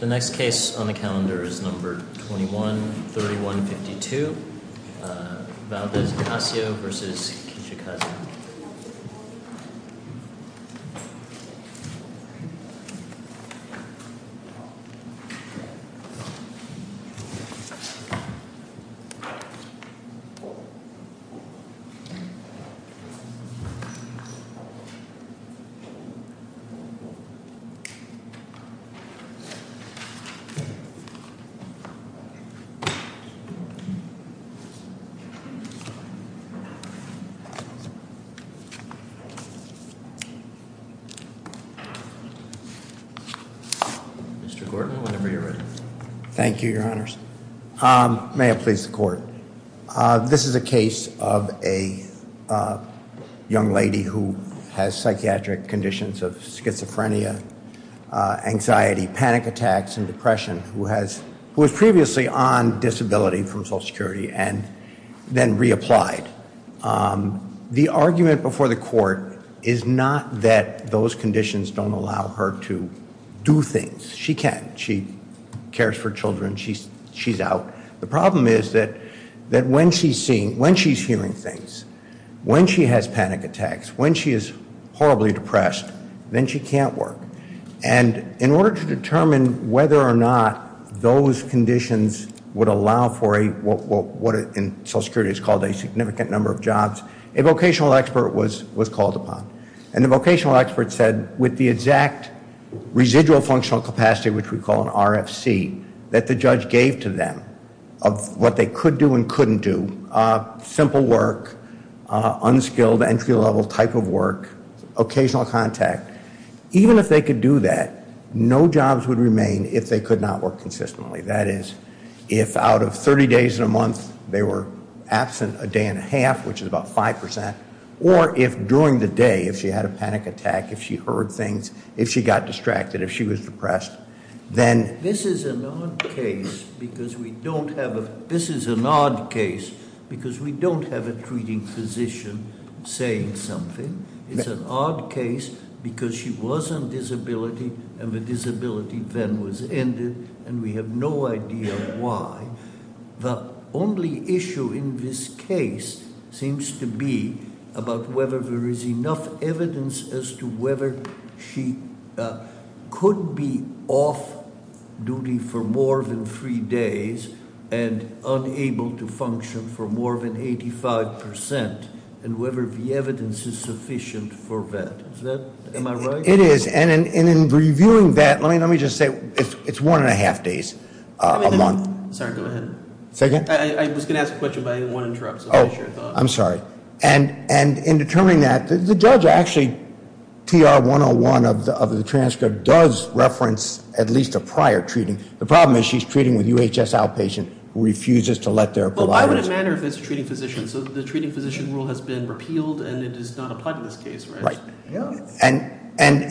The next case on the calendar is number 21-3152, Valdes-Ocasio v. Kijakazi. Mr. Gordon, whenever you're ready. Thank you, your honors. May it please the court. This is a case of a young lady who has psychiatric conditions of schizophrenia, anxiety, panic attacks and depression, who was previously on disability from Social Security and then reapplied. The argument before the court is not that those conditions don't allow her to do things. She can. She cares for children. She's out. The problem is that when she's seeing, when she's hearing things, when she has panic attacks, when she is horribly depressed, then she can't work. And in order to determine whether or not those conditions would allow for a, what in Social Security is called a significant number of jobs, a vocational expert was called upon. And the vocational expert said, with the exact residual functional capacity, which we call an RFC, that the judge gave to them of what they could do and couldn't do, simple work, unskilled entry level type of work, occasional contact. Even if they could do that, no jobs would remain if they could not work consistently. That is, if out of 30 days in a month, they were absent a day and a half, which is about 5%. Or if during the day, if she had a panic attack, if she heard things, if she got distracted, if she was depressed, then- This is an odd case, because we don't have a treating physician saying something. It's an odd case, because she was on disability, and the disability then was ended, and we have no idea why. The only issue in this case seems to be about whether there is enough evidence as to whether she could be off duty for more than three days and unable to function for more than 85% and whether the evidence is sufficient for that. Is that, am I right? It is, and in reviewing that, let me just say, it's one and a half days a month. Sorry, go ahead. Second? I was going to ask a question, but I didn't want to interrupt, so I'm not sure I thought- I'm sorry. And in determining that, the judge actually, TR 101 of the transcript does reference at least a prior treating. The problem is, she's treating with UHS outpatient, refuses to let their providers- Well, why would it matter if it's a treating physician? So the treating physician rule has been repealed, and it does not apply to this case, right? Right, and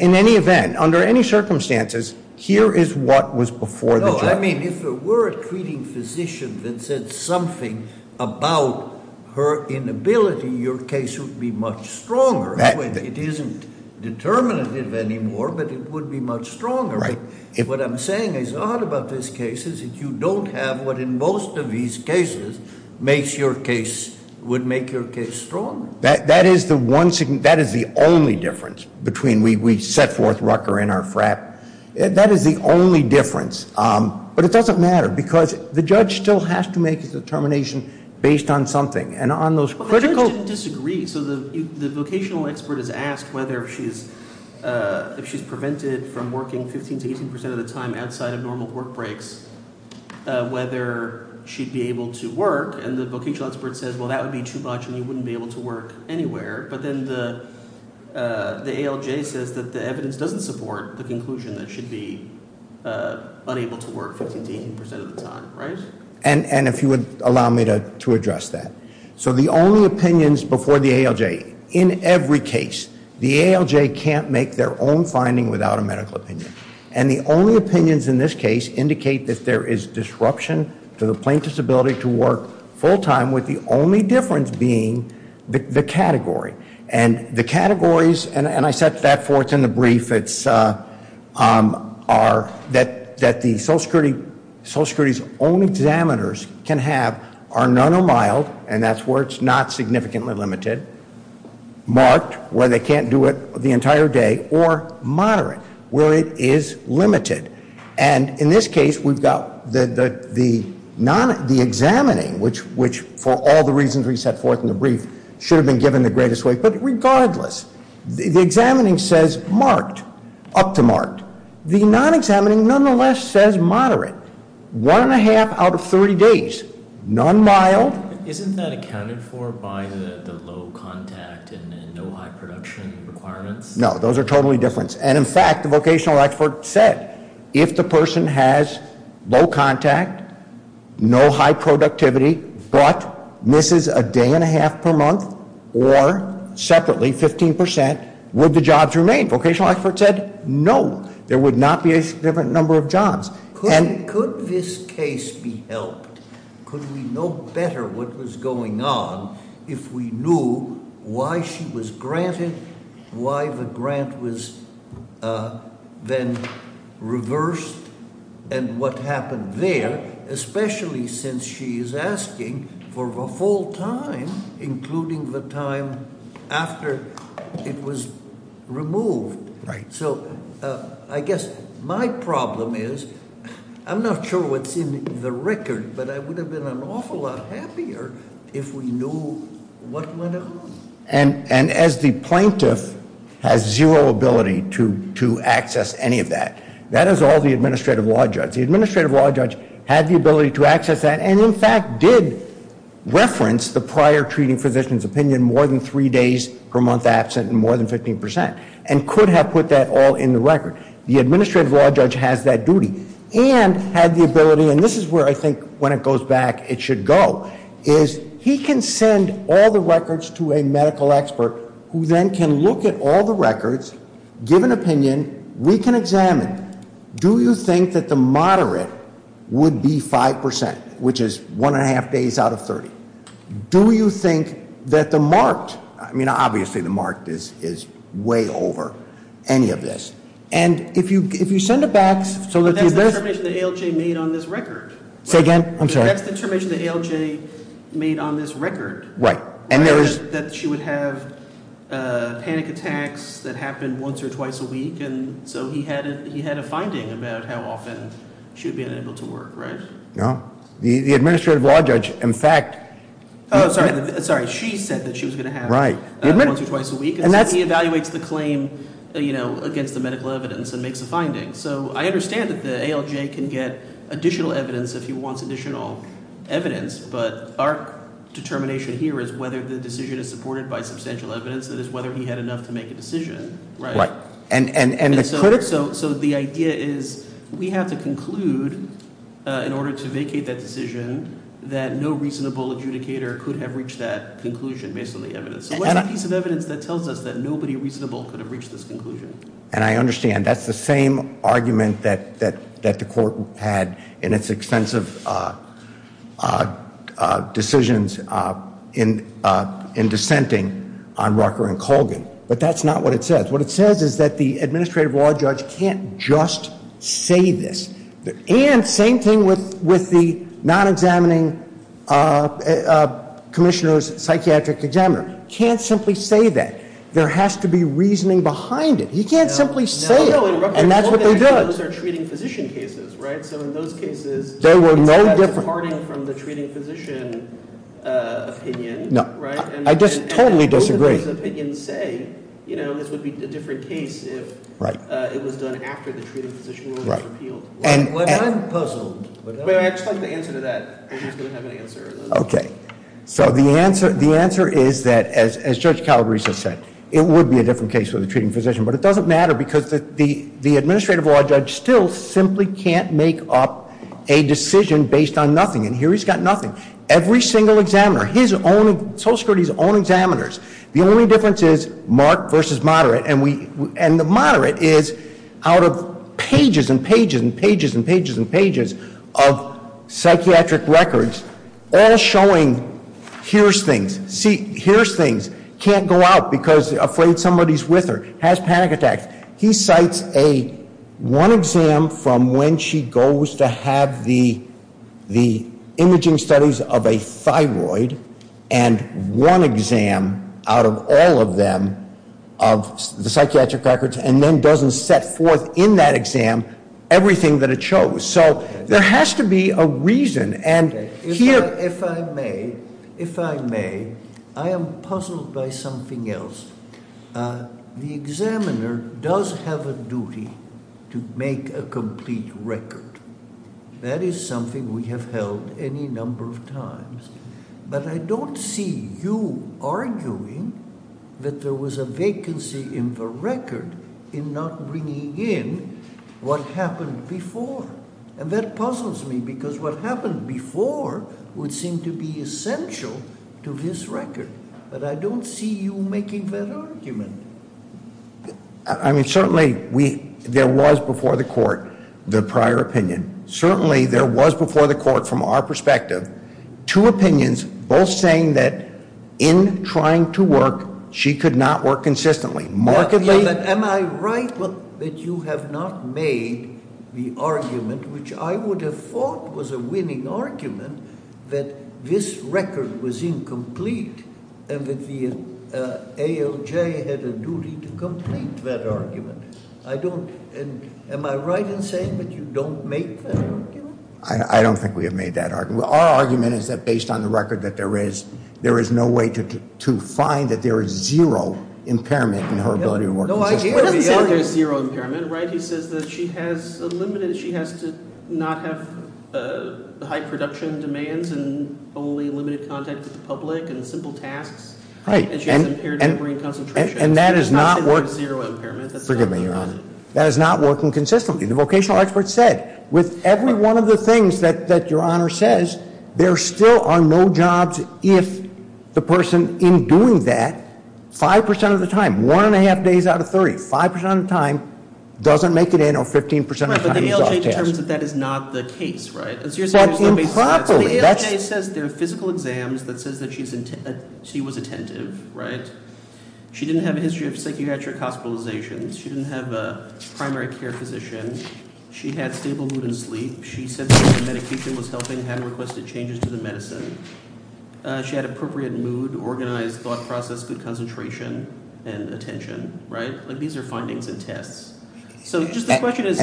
in any event, under any circumstances, here is what was before the judge. No, I mean, if it were a treating physician that said something about her inability, your case would be much stronger. It isn't determinative anymore, but it would be much stronger. Right. What I'm saying is, all about this case is that you don't have what in most of these cases would make your case stronger. That is the only difference between we set forth Rucker in our frat. That is the only difference, but it doesn't matter because the judge still has to make a determination based on something, and on those critical- Well, the judge didn't disagree. So the vocational expert is asked whether if she's prevented from working 15 to 18% of the time outside of normal work breaks, whether she'd be able to work, and the vocational expert says, well, that would be too much, and you wouldn't be able to work anywhere. But then the ALJ says that the evidence doesn't support the conclusion that she'd be unable to work 15 to 18% of the time, right? And if you would allow me to address that. So the only opinions before the ALJ, in every case, the ALJ can't make their own finding without a medical opinion. And the only opinions in this case indicate that there is disruption to the plaintiff's ability to work full-time, with the only difference being the category. And the categories, and I set that forth in the brief, it's that the Social Security's only examiners can have are none or mild, and that's where it's not significantly limited, marked, where they can't do it the entire day, or moderate, where it is limited. And in this case, we've got the examining, which for all the reasons we set forth in the brief, should have been given the greatest weight. But regardless, the examining says marked, up to marked. The non-examining, nonetheless, says moderate, one and a half out of 30 days, none mild. Isn't that accounted for by the low contact and no high production requirements? No, those are totally different. And in fact, the vocational expert said, if the person has low contact, no high productivity, but misses a day and a half per month, or separately, 15%, would the jobs remain? Vocational expert said, no, there would not be a different number of jobs. Could this case be helped? Could we know better what was going on if we knew why she was granted, why the grant was then reversed, and what happened there, especially since she is asking for the full time, including the time after it was removed. So I guess my problem is, I'm not sure what's in the record, but I would have been an awful lot happier if we knew what went on. And as the plaintiff has zero ability to access any of that, that is all the administrative law judge. The administrative law judge had the ability to access that, and in fact, did reference the prior treating physician's opinion more than three days per month absent and more than 15%, and could have put that all in the record. The administrative law judge has that duty, and had the ability, and this is where I think, when it goes back, it should go. Is he can send all the records to a medical expert, who then can look at all the records, give an opinion, we can examine, do you think that the moderate would be 5%? Which is one and a half days out of 30. Do you think that the marked, I mean, obviously the marked is way over any of this. And if you send it back, so that- That's the determination that ALJ made on this record. Say again, I'm sorry. That's the determination that ALJ made on this record. Right. And there was- That she would have panic attacks that happened once or twice a week. And so he had a finding about how often she would be unable to work, right? No. The administrative law judge, in fact. Sorry, she said that she was going to have it. Right. Once or twice a week. And he evaluates the claim against the medical evidence and makes a finding. So I understand that the ALJ can get additional evidence if he wants additional evidence. But our determination here is whether the decision is supported by substantial evidence. That is whether he had enough to make a decision, right? Right. And so the idea is we have to conclude, in order to vacate that decision, that no reasonable adjudicator could have reached that conclusion based on the evidence. So what's the piece of evidence that tells us that nobody reasonable could have reached this conclusion? And I understand that's the same argument that the court had in its extensive decisions in dissenting on Rucker and Colgan. But that's not what it says. What it says is that the administrative law judge can't just say this. And same thing with the non-examining commissioner's psychiatric examiner. He can't simply say that. There has to be reasoning behind it. He can't simply say it, and that's what they did. No, no, in Rucker and Colgan, those are treating physician cases, right? So in those cases, it's not departing from the treating physician opinion, right? I just totally disagree. And both of those opinions say, you know, this would be a different case if it was done after the treating physician was repealed. Right. Well, I'm puzzled. But I just like the answer to that. I'm just going to have an answer. Okay. So the answer is that, as Judge Calabrese has said, it would be a different case with a treating physician. But it doesn't matter, because the administrative law judge still simply can't make up a decision based on nothing. And here he's got nothing. Every single examiner, his own, Social Security's own examiners. The only difference is marked versus moderate. And the moderate is out of pages and pages and pages and pages and pages of psychiatric records, all showing here's things. See, here's things. Can't go out because afraid somebody's with her. Has panic attacks. He cites a one exam from when she goes to have the imaging studies of a thyroid. And one exam out of all of them of the psychiatric records. And then doesn't set forth in that exam everything that it chose. So there has to be a reason. And here- If I may, if I may, I am puzzled by something else. The examiner does have a duty to make a complete record. That is something we have held any number of times. But I don't see you arguing that there was a vacancy in the record in not bringing in what happened before. And that puzzles me because what happened before would seem to be essential to this record. But I don't see you making that argument. I mean, certainly, there was before the court the prior opinion. Certainly, there was before the court, from our perspective, two opinions, both saying that in trying to work, she could not work consistently. Markedly- Am I right that you have not made the argument, which I would have thought was a winning argument, that this record was incomplete? And that the ALJ had a duty to complete that argument. I don't, am I right in saying that you don't make that argument? I don't think we have made that argument. Our argument is that based on the record that there is, there is no way to find that there is zero impairment in her ability to work consistently. No, I hear you. He doesn't say there's zero impairment, right? He says that she has to not have high production demands and only limited contact with the public and simple tasks. And she has impaired memory and concentration. And that is not working- I'm not saying there's zero impairment. Forgive me, Your Honor. That is not working consistently. The vocational expert said, with every one of the things that your honor says, there still are no jobs if the person in doing that, 5% of the time, one and a half days out of 30, 5% of the time doesn't make it in, or 15% of the time is off task. But the ALJ determines that that is not the case, right? But improperly, that's- The ALJ says there are physical exams that says that she was attentive, right? She didn't have a history of psychiatric hospitalizations. She didn't have a primary care physician. She had stable mood and sleep. She said that the medication was helping, hadn't requested changes to the medicine. She had appropriate mood, organized thought process, good concentration, and attention, right? These are findings and tests. So just the question is,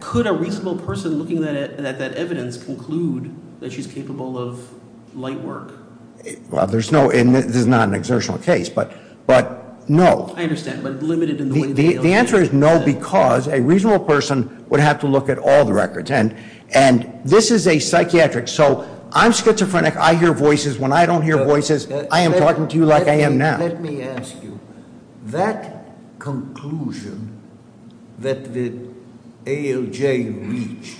could a reasonable person looking at that evidence conclude that she's capable of light work? Well, there's no, and this is not an exertional case, but no. I understand, but limited in the way that the ALJ says. The answer is no, because a reasonable person would have to look at all the records. And this is a psychiatric, so I'm schizophrenic, I hear voices. When I don't hear voices, I am talking to you like I am now. Let me ask you, that conclusion that the ALJ reached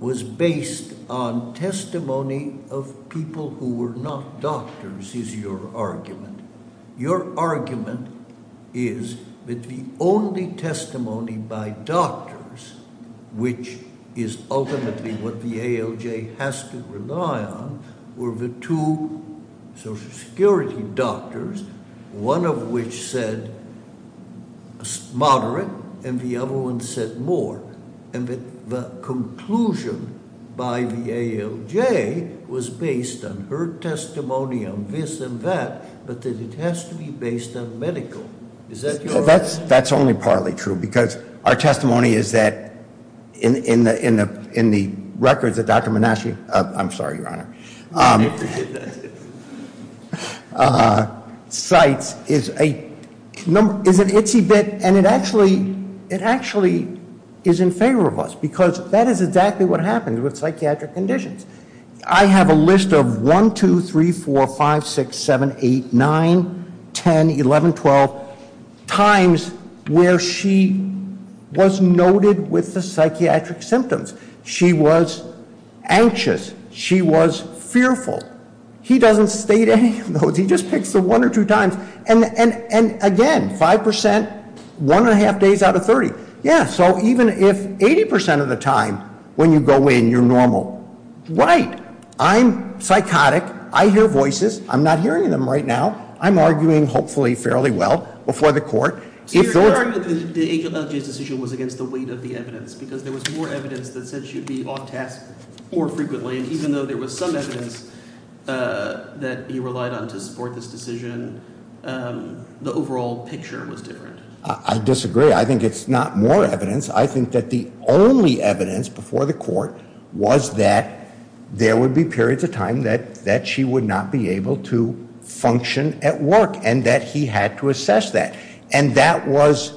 was based on testimony of people who were not doctors, is your argument. Your argument is that the only testimony by doctors, which is ultimately what the ALJ has to rely on, were the two social security doctors, one of which said moderate, and the other one said more. And that the conclusion by the ALJ was based on her testimony on this and that. But that it has to be based on medical. Is that your- That's only partly true, because our testimony is that in the records that Dr. Monashi, I'm sorry, your honor, cites is an itsy bit, and it actually is in favor of us. Because that is exactly what happens with psychiatric conditions. I have a list of 1, 2, 3, 4, 5, 6, 7, 8, 9, 10, 11, 12 times where she was noted with the psychiatric symptoms. She was anxious, she was fearful. He doesn't state any of those, he just picks the one or two times. And again, 5%, one and a half days out of 30. Yeah, so even if 80% of the time when you go in, you're normal. Right, I'm psychotic, I hear voices, I'm not hearing them right now. I'm arguing, hopefully, fairly well before the court. So your argument that the ALJ's decision was against the weight of the evidence, because there was more evidence that said she would be off task more frequently. And even though there was some evidence that he relied on to support this decision, the overall picture was different. I disagree, I think it's not more evidence. I think that the only evidence before the court was that there would be periods of time that she would not be able to function at work, and that he had to assess that. And that was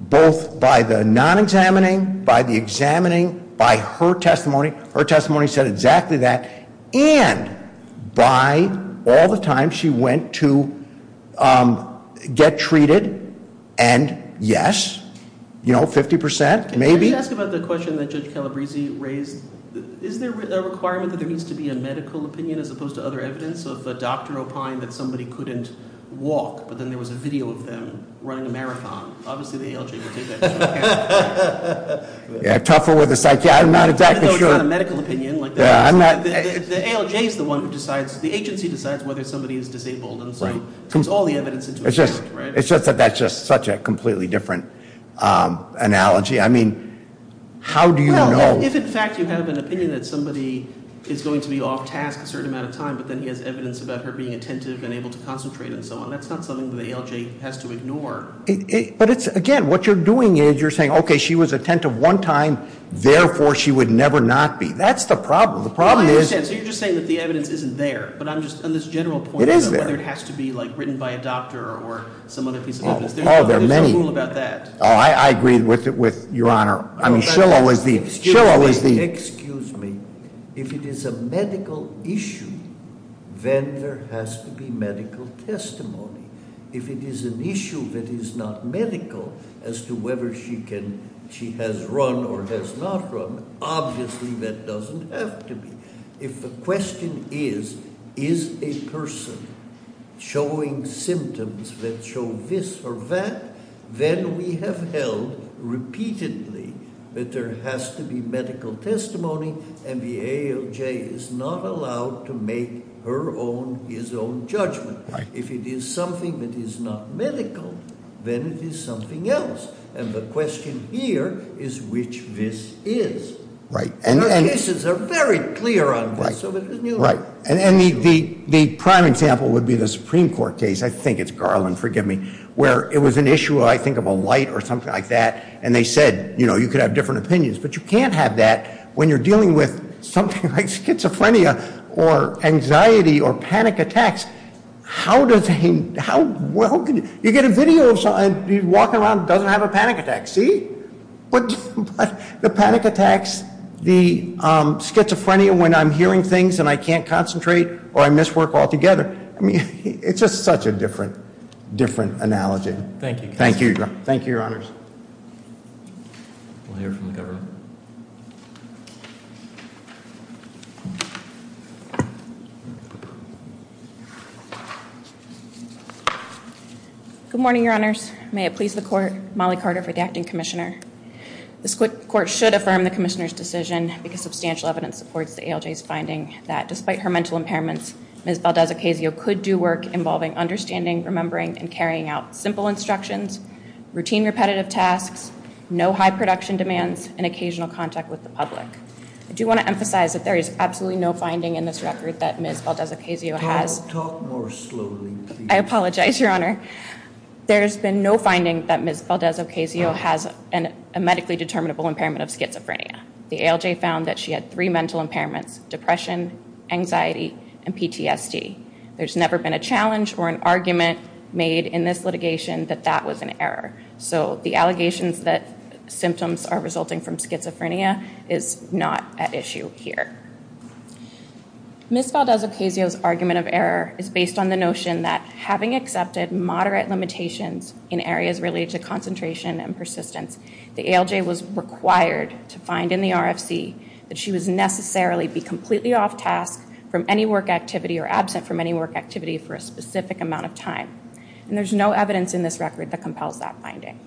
both by the non-examining, by the examining, by her testimony. Her testimony said exactly that, and by all the time she went to get treated, and yes, 50%, maybe. Can you ask about the question that Judge Calabrese raised? Is there a requirement that there needs to be a medical opinion as opposed to other evidence of a doctor opine that somebody couldn't walk, but then there was a video of them running a marathon, obviously the ALJ would take that into account. Yeah, tougher with a psychiatric, I'm not exactly sure. Even though it's not a medical opinion, the ALJ is the one who decides, the agency decides whether somebody is disabled. And so it's all the evidence into account, right? It's just that that's just such a completely different analogy. I mean, how do you know? If, in fact, you have an opinion that somebody is going to be off task a certain amount of time, but then he has evidence about her being attentive and able to concentrate and so on, that's not something that the ALJ has to ignore. But it's, again, what you're doing is you're saying, okay, she was attentive one time, therefore she would never not be. That's the problem. The problem is- I understand. So you're just saying that the evidence isn't there. But I'm just, on this general point- It is there. Whether it has to be written by a doctor or some other piece of evidence, there's a rule about that. I agree with your honor. I mean, Shiloh is the- Excuse me. If it is a medical issue, then there has to be medical testimony. If it is an issue that is not medical, as to whether she has run or has not run, obviously that doesn't have to be. If the question is, is a person showing symptoms that show this or that, then we have held repeatedly that there has to be medical testimony, and the ALJ is not allowed to make her own, his own judgment. If it is something that is not medical, then it is something else. And the question here is which this is. Right. And the cases are very clear on this. Right. And the prime example would be the Supreme Court case, I think it's Garland, forgive me, where it was an issue, I think of a light or something like that, and they said, you could have different opinions. But you can't have that when you're dealing with something like schizophrenia or anxiety or panic attacks. How does he, how, you get a video of someone walking around that doesn't have a panic attack, see? But the panic attacks, the schizophrenia when I'm hearing things and I can't concentrate or I miss work altogether, I mean, it's just such a different, different analogy. Thank you. Thank you. Thank you, your honors. We'll hear from the governor. Good morning, your honors. May it please the court, Molly Carter for the acting commissioner. This court should affirm the commissioner's decision because substantial evidence supports the ALJ's finding that despite her mental impairments, Ms. Valdez-Ocasio could do work involving understanding, remembering, and carrying out simple instructions, routine repetitive tasks, no high production demands, and occasional contact with the public. I do want to emphasize that there is absolutely no finding in this record that Ms. Valdez-Ocasio has. Talk more slowly, please. I apologize, your honor. There's been no finding that Ms. Valdez-Ocasio has a medically determinable impairment of schizophrenia. The ALJ found that she had three mental impairments, depression, anxiety, and PTSD. There's never been a challenge or an argument made in this litigation that that was an error. So the allegations that symptoms are resulting from schizophrenia is not at issue here. Ms. Valdez-Ocasio's argument of error is based on the notion that having accepted moderate limitations in areas related to concentration and persistence, the ALJ was required to find in the RFC that she was necessarily be completely off task from any work activity or absent from any work activity for a specific amount of time. And there's no evidence in this record that compels that finding.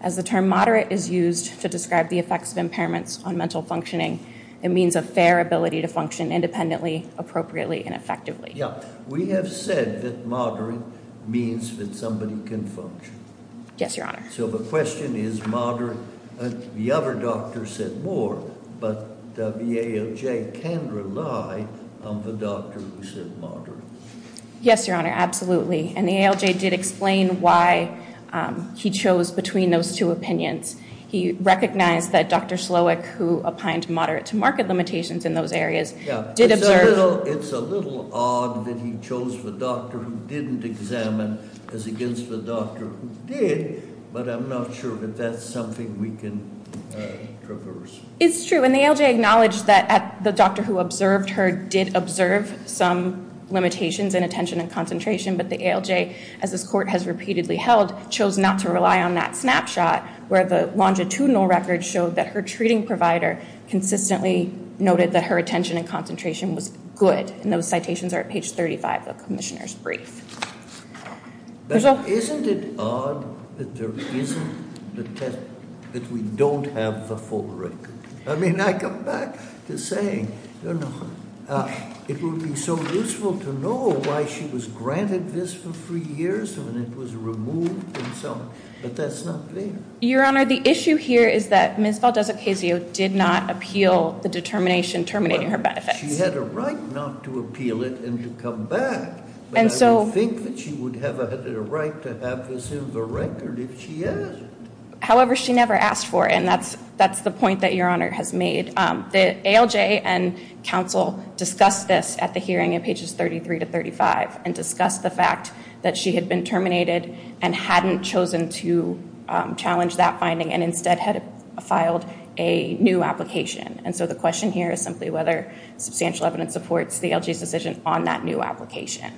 As the term moderate is used to describe the effects of impairments on mental functioning, it means a fair ability to function independently, appropriately, and effectively. Yeah, we have said that moderate means that somebody can function. Yes, your honor. So the question is moderate. The other doctor said more, but the ALJ can rely on the doctor who said moderate. Yes, your honor, absolutely. And the ALJ did explain why he chose between those two opinions. He recognized that Dr. Slowick, who applied moderate to market limitations in those areas, did observe- It's a little odd that he chose the doctor who didn't examine as against the doctor who did. But I'm not sure that that's something we can traverse. It's true, and the ALJ acknowledged that the doctor who observed her did observe some limitations in attention and concentration. But the ALJ, as this court has repeatedly held, chose not to rely on that snapshot, where the longitudinal record showed that her treating provider consistently noted that her attention and concentration was good. And those citations are at page 35 of the commissioner's brief. There's a- Isn't it odd that there isn't the test, that we don't have the full record? I mean, I come back to saying, it would be so useful to know why she was granted this for three years when it was removed and so on. But that's not fair. Your honor, the issue here is that Ms. Valdez-Ocasio did not appeal the determination terminating her benefits. She had a right not to appeal it and to come back. And so- I would think that she would have had a right to have this in the record if she asked. However, she never asked for it, and that's the point that your honor has made. The ALJ and counsel discussed this at the hearing in pages 33 to 35 and discussed the fact that she had been terminated and hadn't chosen to challenge that finding and instead had filed a new application. And so the question here is simply whether substantial evidence supports the ALJ's decision on that new application.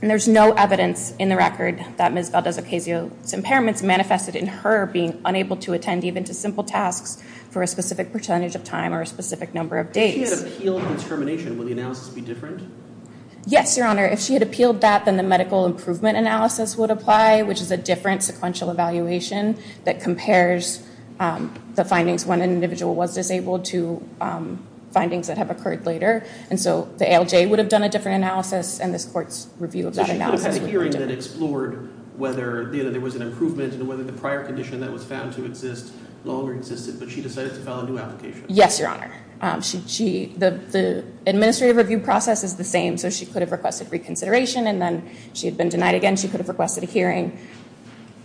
And there's no evidence in the record that Ms. Valdez-Ocasio's impairments manifested in her being unable to attend even to simple tasks for a specific percentage of time or a specific number of days. If she had appealed the termination, would the analysis be different? Yes, your honor. If she had appealed that, then the medical improvement analysis would apply, which is a different sequential evaluation that compares the findings when an individual was disabled to findings that have occurred later. And so the ALJ would have done a different analysis, and this court's review of that analysis would be different. So she could have had a hearing that explored whether there was an improvement and whether the prior condition that was found to exist no longer existed, but she decided to file a new application. Yes, your honor. The administrative review process is the same, so she could have requested reconsideration, and then she had been denied again. She could have requested a hearing,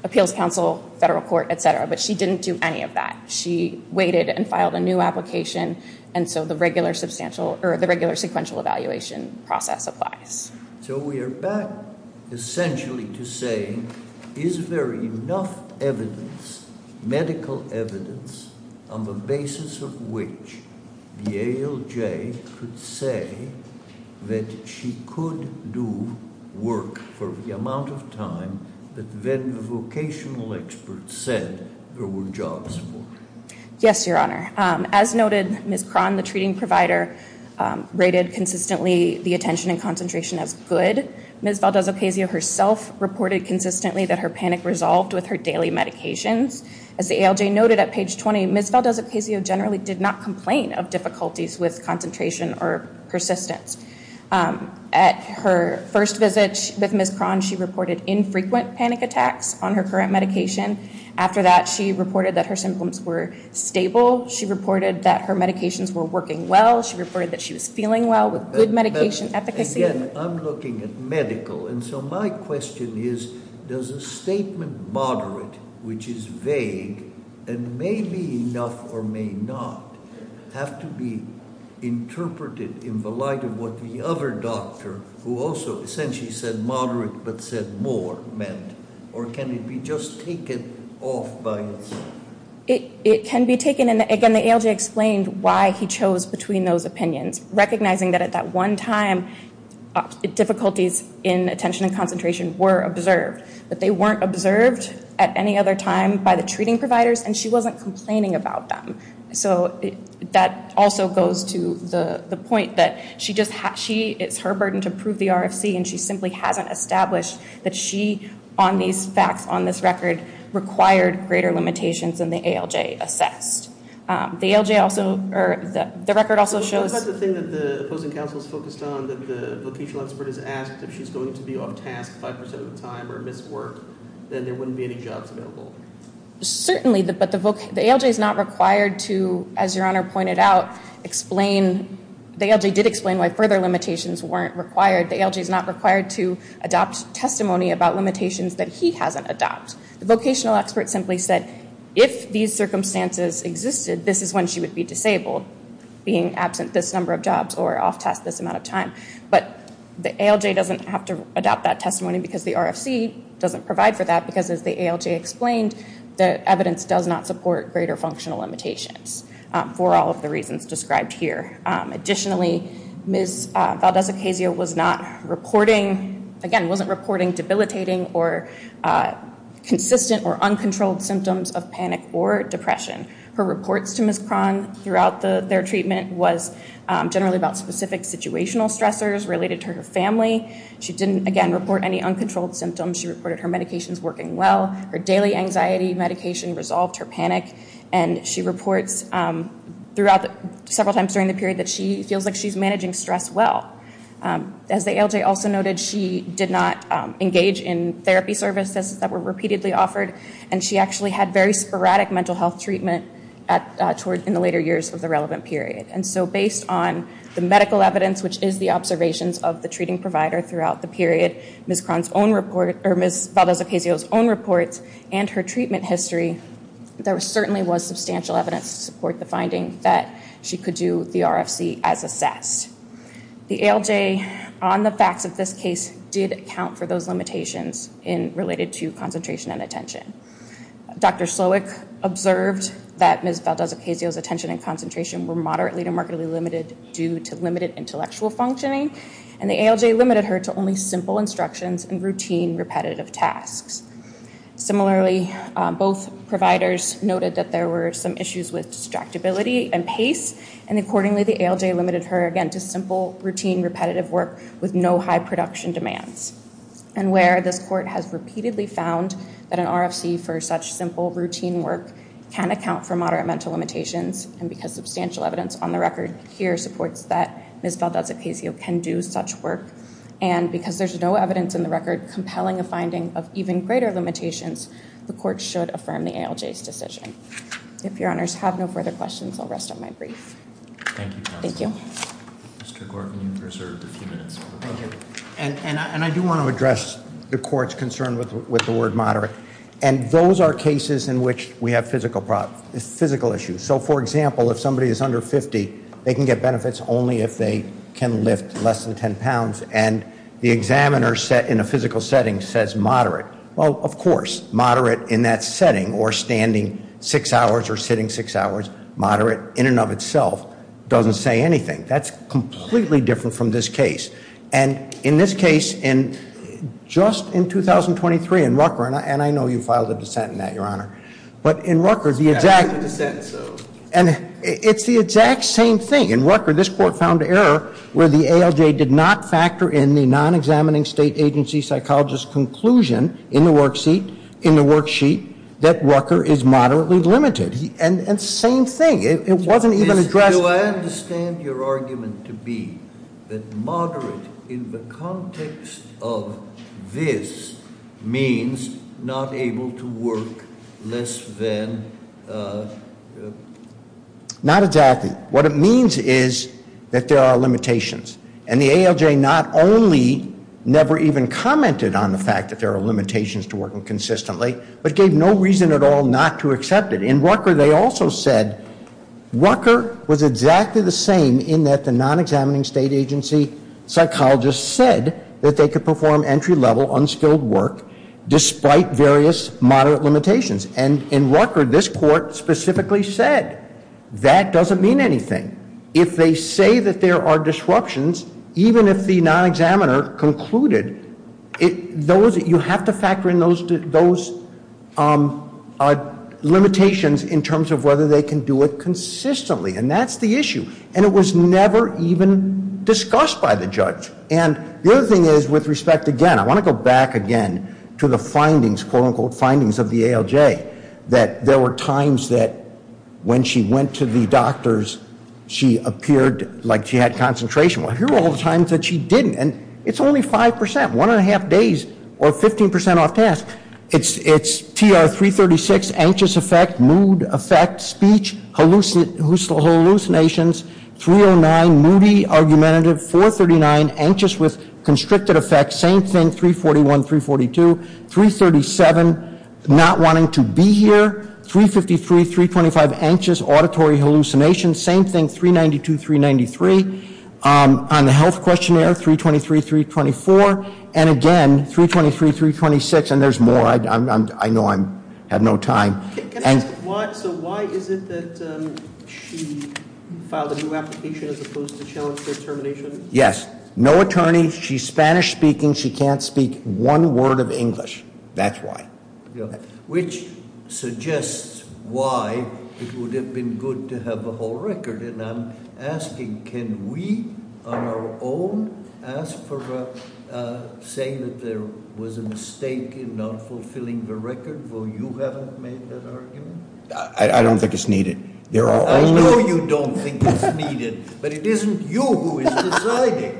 appeals counsel, federal court, etc., but she didn't do any of that. She waited and filed a new application, and so the regular sequential evaluation process applies. So we are back essentially to say, is there enough evidence, medical evidence, on the basis of which the ALJ could say that she could do work for the amount of time that then the vocational experts said there were jobs for her? Yes, your honor. As noted, Ms. Cron, the treating provider, rated consistently the attention and concentration as good. Ms. Valdez-Ocasio herself reported consistently that her panic resolved with her daily medications. As the ALJ noted at page 20, Ms. Valdez-Ocasio generally did not complain of difficulties with concentration or persistence. At her first visit with Ms. Cron, she reported infrequent panic attacks on her current medication. After that, she reported that her symptoms were stable. She reported that her medications were working well. She reported that she was feeling well with good medication efficacy. Again, I'm looking at medical, and so my question is, does a statement moderate, which is vague, and may be enough or may not, have to be interpreted in the light of what the other doctor, who also essentially said moderate but said more, meant? Or can it be just taken off by itself? It can be taken, and again, the ALJ explained why he chose between those opinions, recognizing that at that one time, difficulties in attention and concentration were observed. But they weren't observed at any other time by the treating providers, and she wasn't complaining about them. So that also goes to the point that it's her burden to prove the RFC, and she simply hasn't established that she, on these facts, on this record, required greater limitations than the ALJ assessed. The ALJ also, or the record also shows- But what about the thing that the opposing counsel's focused on, that the vocational expert has asked, if she's going to be off task 5% of the time or miss work, then there wouldn't be any jobs available? Certainly, but the ALJ's not required to, as your honor pointed out, explain, the ALJ did explain why further limitations weren't required. The ALJ's not required to adopt testimony about limitations that he hasn't adopted. The vocational expert simply said, if these circumstances existed, this is when she would be disabled, being absent this number of jobs or off task this amount of time. But the ALJ doesn't have to adopt that testimony because the RFC doesn't provide for that, because as the ALJ explained, the evidence does not support greater functional limitations, for all of the reasons described here. Additionally, Ms. Valdez-Ocasio was not reporting, again, wasn't reporting debilitating or consistent or uncontrolled symptoms of panic or depression. Her reports to Ms. Cron throughout their treatment was generally about specific situational stressors related to her family. She didn't, again, report any uncontrolled symptoms. She reported her medications working well. Her daily anxiety medication resolved her panic. And she reports several times during the period that she feels like she's managing stress well. As the ALJ also noted, she did not engage in therapy services that were repeatedly offered. And she actually had very sporadic mental health treatment in the later years of the relevant period. And so based on the medical evidence, which is the observations of the treating provider throughout the period, Ms. Cron's own report, or Ms. Valdez-Ocasio's own reports, and her treatment history, there certainly was substantial evidence to support the finding that she could do the RFC as assessed. The ALJ, on the facts of this case, did account for those limitations in related to concentration and attention. Dr. Slowick observed that Ms. Valdez-Ocasio's attention and concentration were moderately to markedly limited due to limited intellectual functioning. And the ALJ limited her to only simple instructions and routine repetitive tasks. Similarly, both providers noted that there were some issues with distractibility and pace. And accordingly, the ALJ limited her, again, to simple routine repetitive work with no high production demands. And where this court has repeatedly found that an RFC for such simple routine work can account for moderate mental limitations, and because substantial evidence on the record here supports that Ms. Valdez-Ocasio can do such work, and because there's no evidence in the record compelling a finding of even greater limitations, the court should affirm the ALJ's decision. If your honors have no further questions, I'll rest on my brief. Thank you, counsel. Thank you. Mr. Gorton, you're served a few minutes. And I do want to address the court's concern with the word moderate. And those are cases in which we have physical issues. So, for example, if somebody is under 50, they can get benefits only if they can lift less than 10 pounds. And the examiner in a physical setting says moderate. Well, of course, moderate in that setting or standing six hours or sitting six hours, moderate in and of itself, doesn't say anything. That's completely different from this case. And in this case, just in 2023 in Rucker, and I know you filed a dissent in that, your honor. But in Rucker, the exact same thing. In Rucker, this court found error where the ALJ did not factor in the non-examining state agency psychologist's conclusion in the worksheet that Rucker is moderately limited. And same thing, it wasn't even addressed- Do I understand your argument to be that moderate in the context of this means not able to work less than- Not exactly. What it means is that there are limitations. And the ALJ not only never even commented on the fact that there are limitations to working consistently, but gave no reason at all not to accept it. In Rucker, they also said Rucker was exactly the same in that the non-examining state agency psychologist said that they could perform entry-level unskilled work despite various moderate limitations. And in Rucker, this court specifically said that doesn't mean anything. If they say that there are disruptions, even if the non-examiner concluded, you have to factor in those limitations in terms of whether they can do it consistently. And that's the issue. And it was never even discussed by the judge. And the other thing is, with respect, again, I want to go back again to the findings, quote, unquote, findings of the ALJ. That there were times that when she went to the doctors, she appeared like she had concentration. Well, here are all the times that she didn't. And it's only 5%, one and a half days, or 15% off task. It's TR-336, anxious effect, mood effect, speech, hallucinations, 309, moody argumentative, 439, anxious with constricted effect, same thing, 341, 342, 337, not wanting to be here, 353, 325, anxious, auditory hallucinations, same thing, 392, 393. On the health questionnaire, 323, 324. And again, 323, 326. And there's more. I know I have no time. And- So why is it that she filed a new application as opposed to challenge her termination? Yes. No attorney. She's Spanish speaking. She can't speak one word of English. That's why. Which suggests why it would have been good to have a whole record. And I'm asking, can we, on our own, ask for saying that there was a mistake in not fulfilling the record, though you haven't made that argument? I don't think it's needed. There are only- I know you don't think it's needed, but it isn't you who is deciding.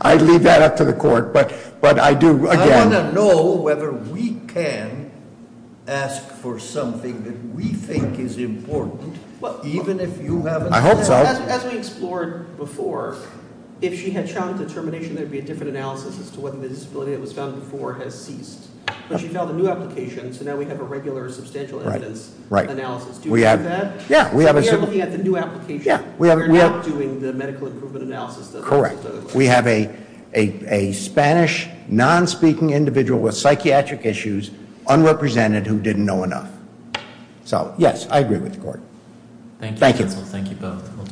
I'd leave that up to the court, but I do, again- I want to know whether we can ask for something that we think is important, even if you haven't- I hope so. As we explored before, if she had challenged the termination, there'd be a different analysis as to whether the disability that was found before has ceased. But she filed a new application, so now we have a regular substantial evidence analysis. Do you support that? Yeah, we have a- We are looking at the new application. We are not doing the medical improvement analysis that- Correct. We have a Spanish, non-speaking individual with psychiatric issues, unrepresented, who didn't know enough. So, yes, I agree with the court. Thank you, counsel. Thank you both.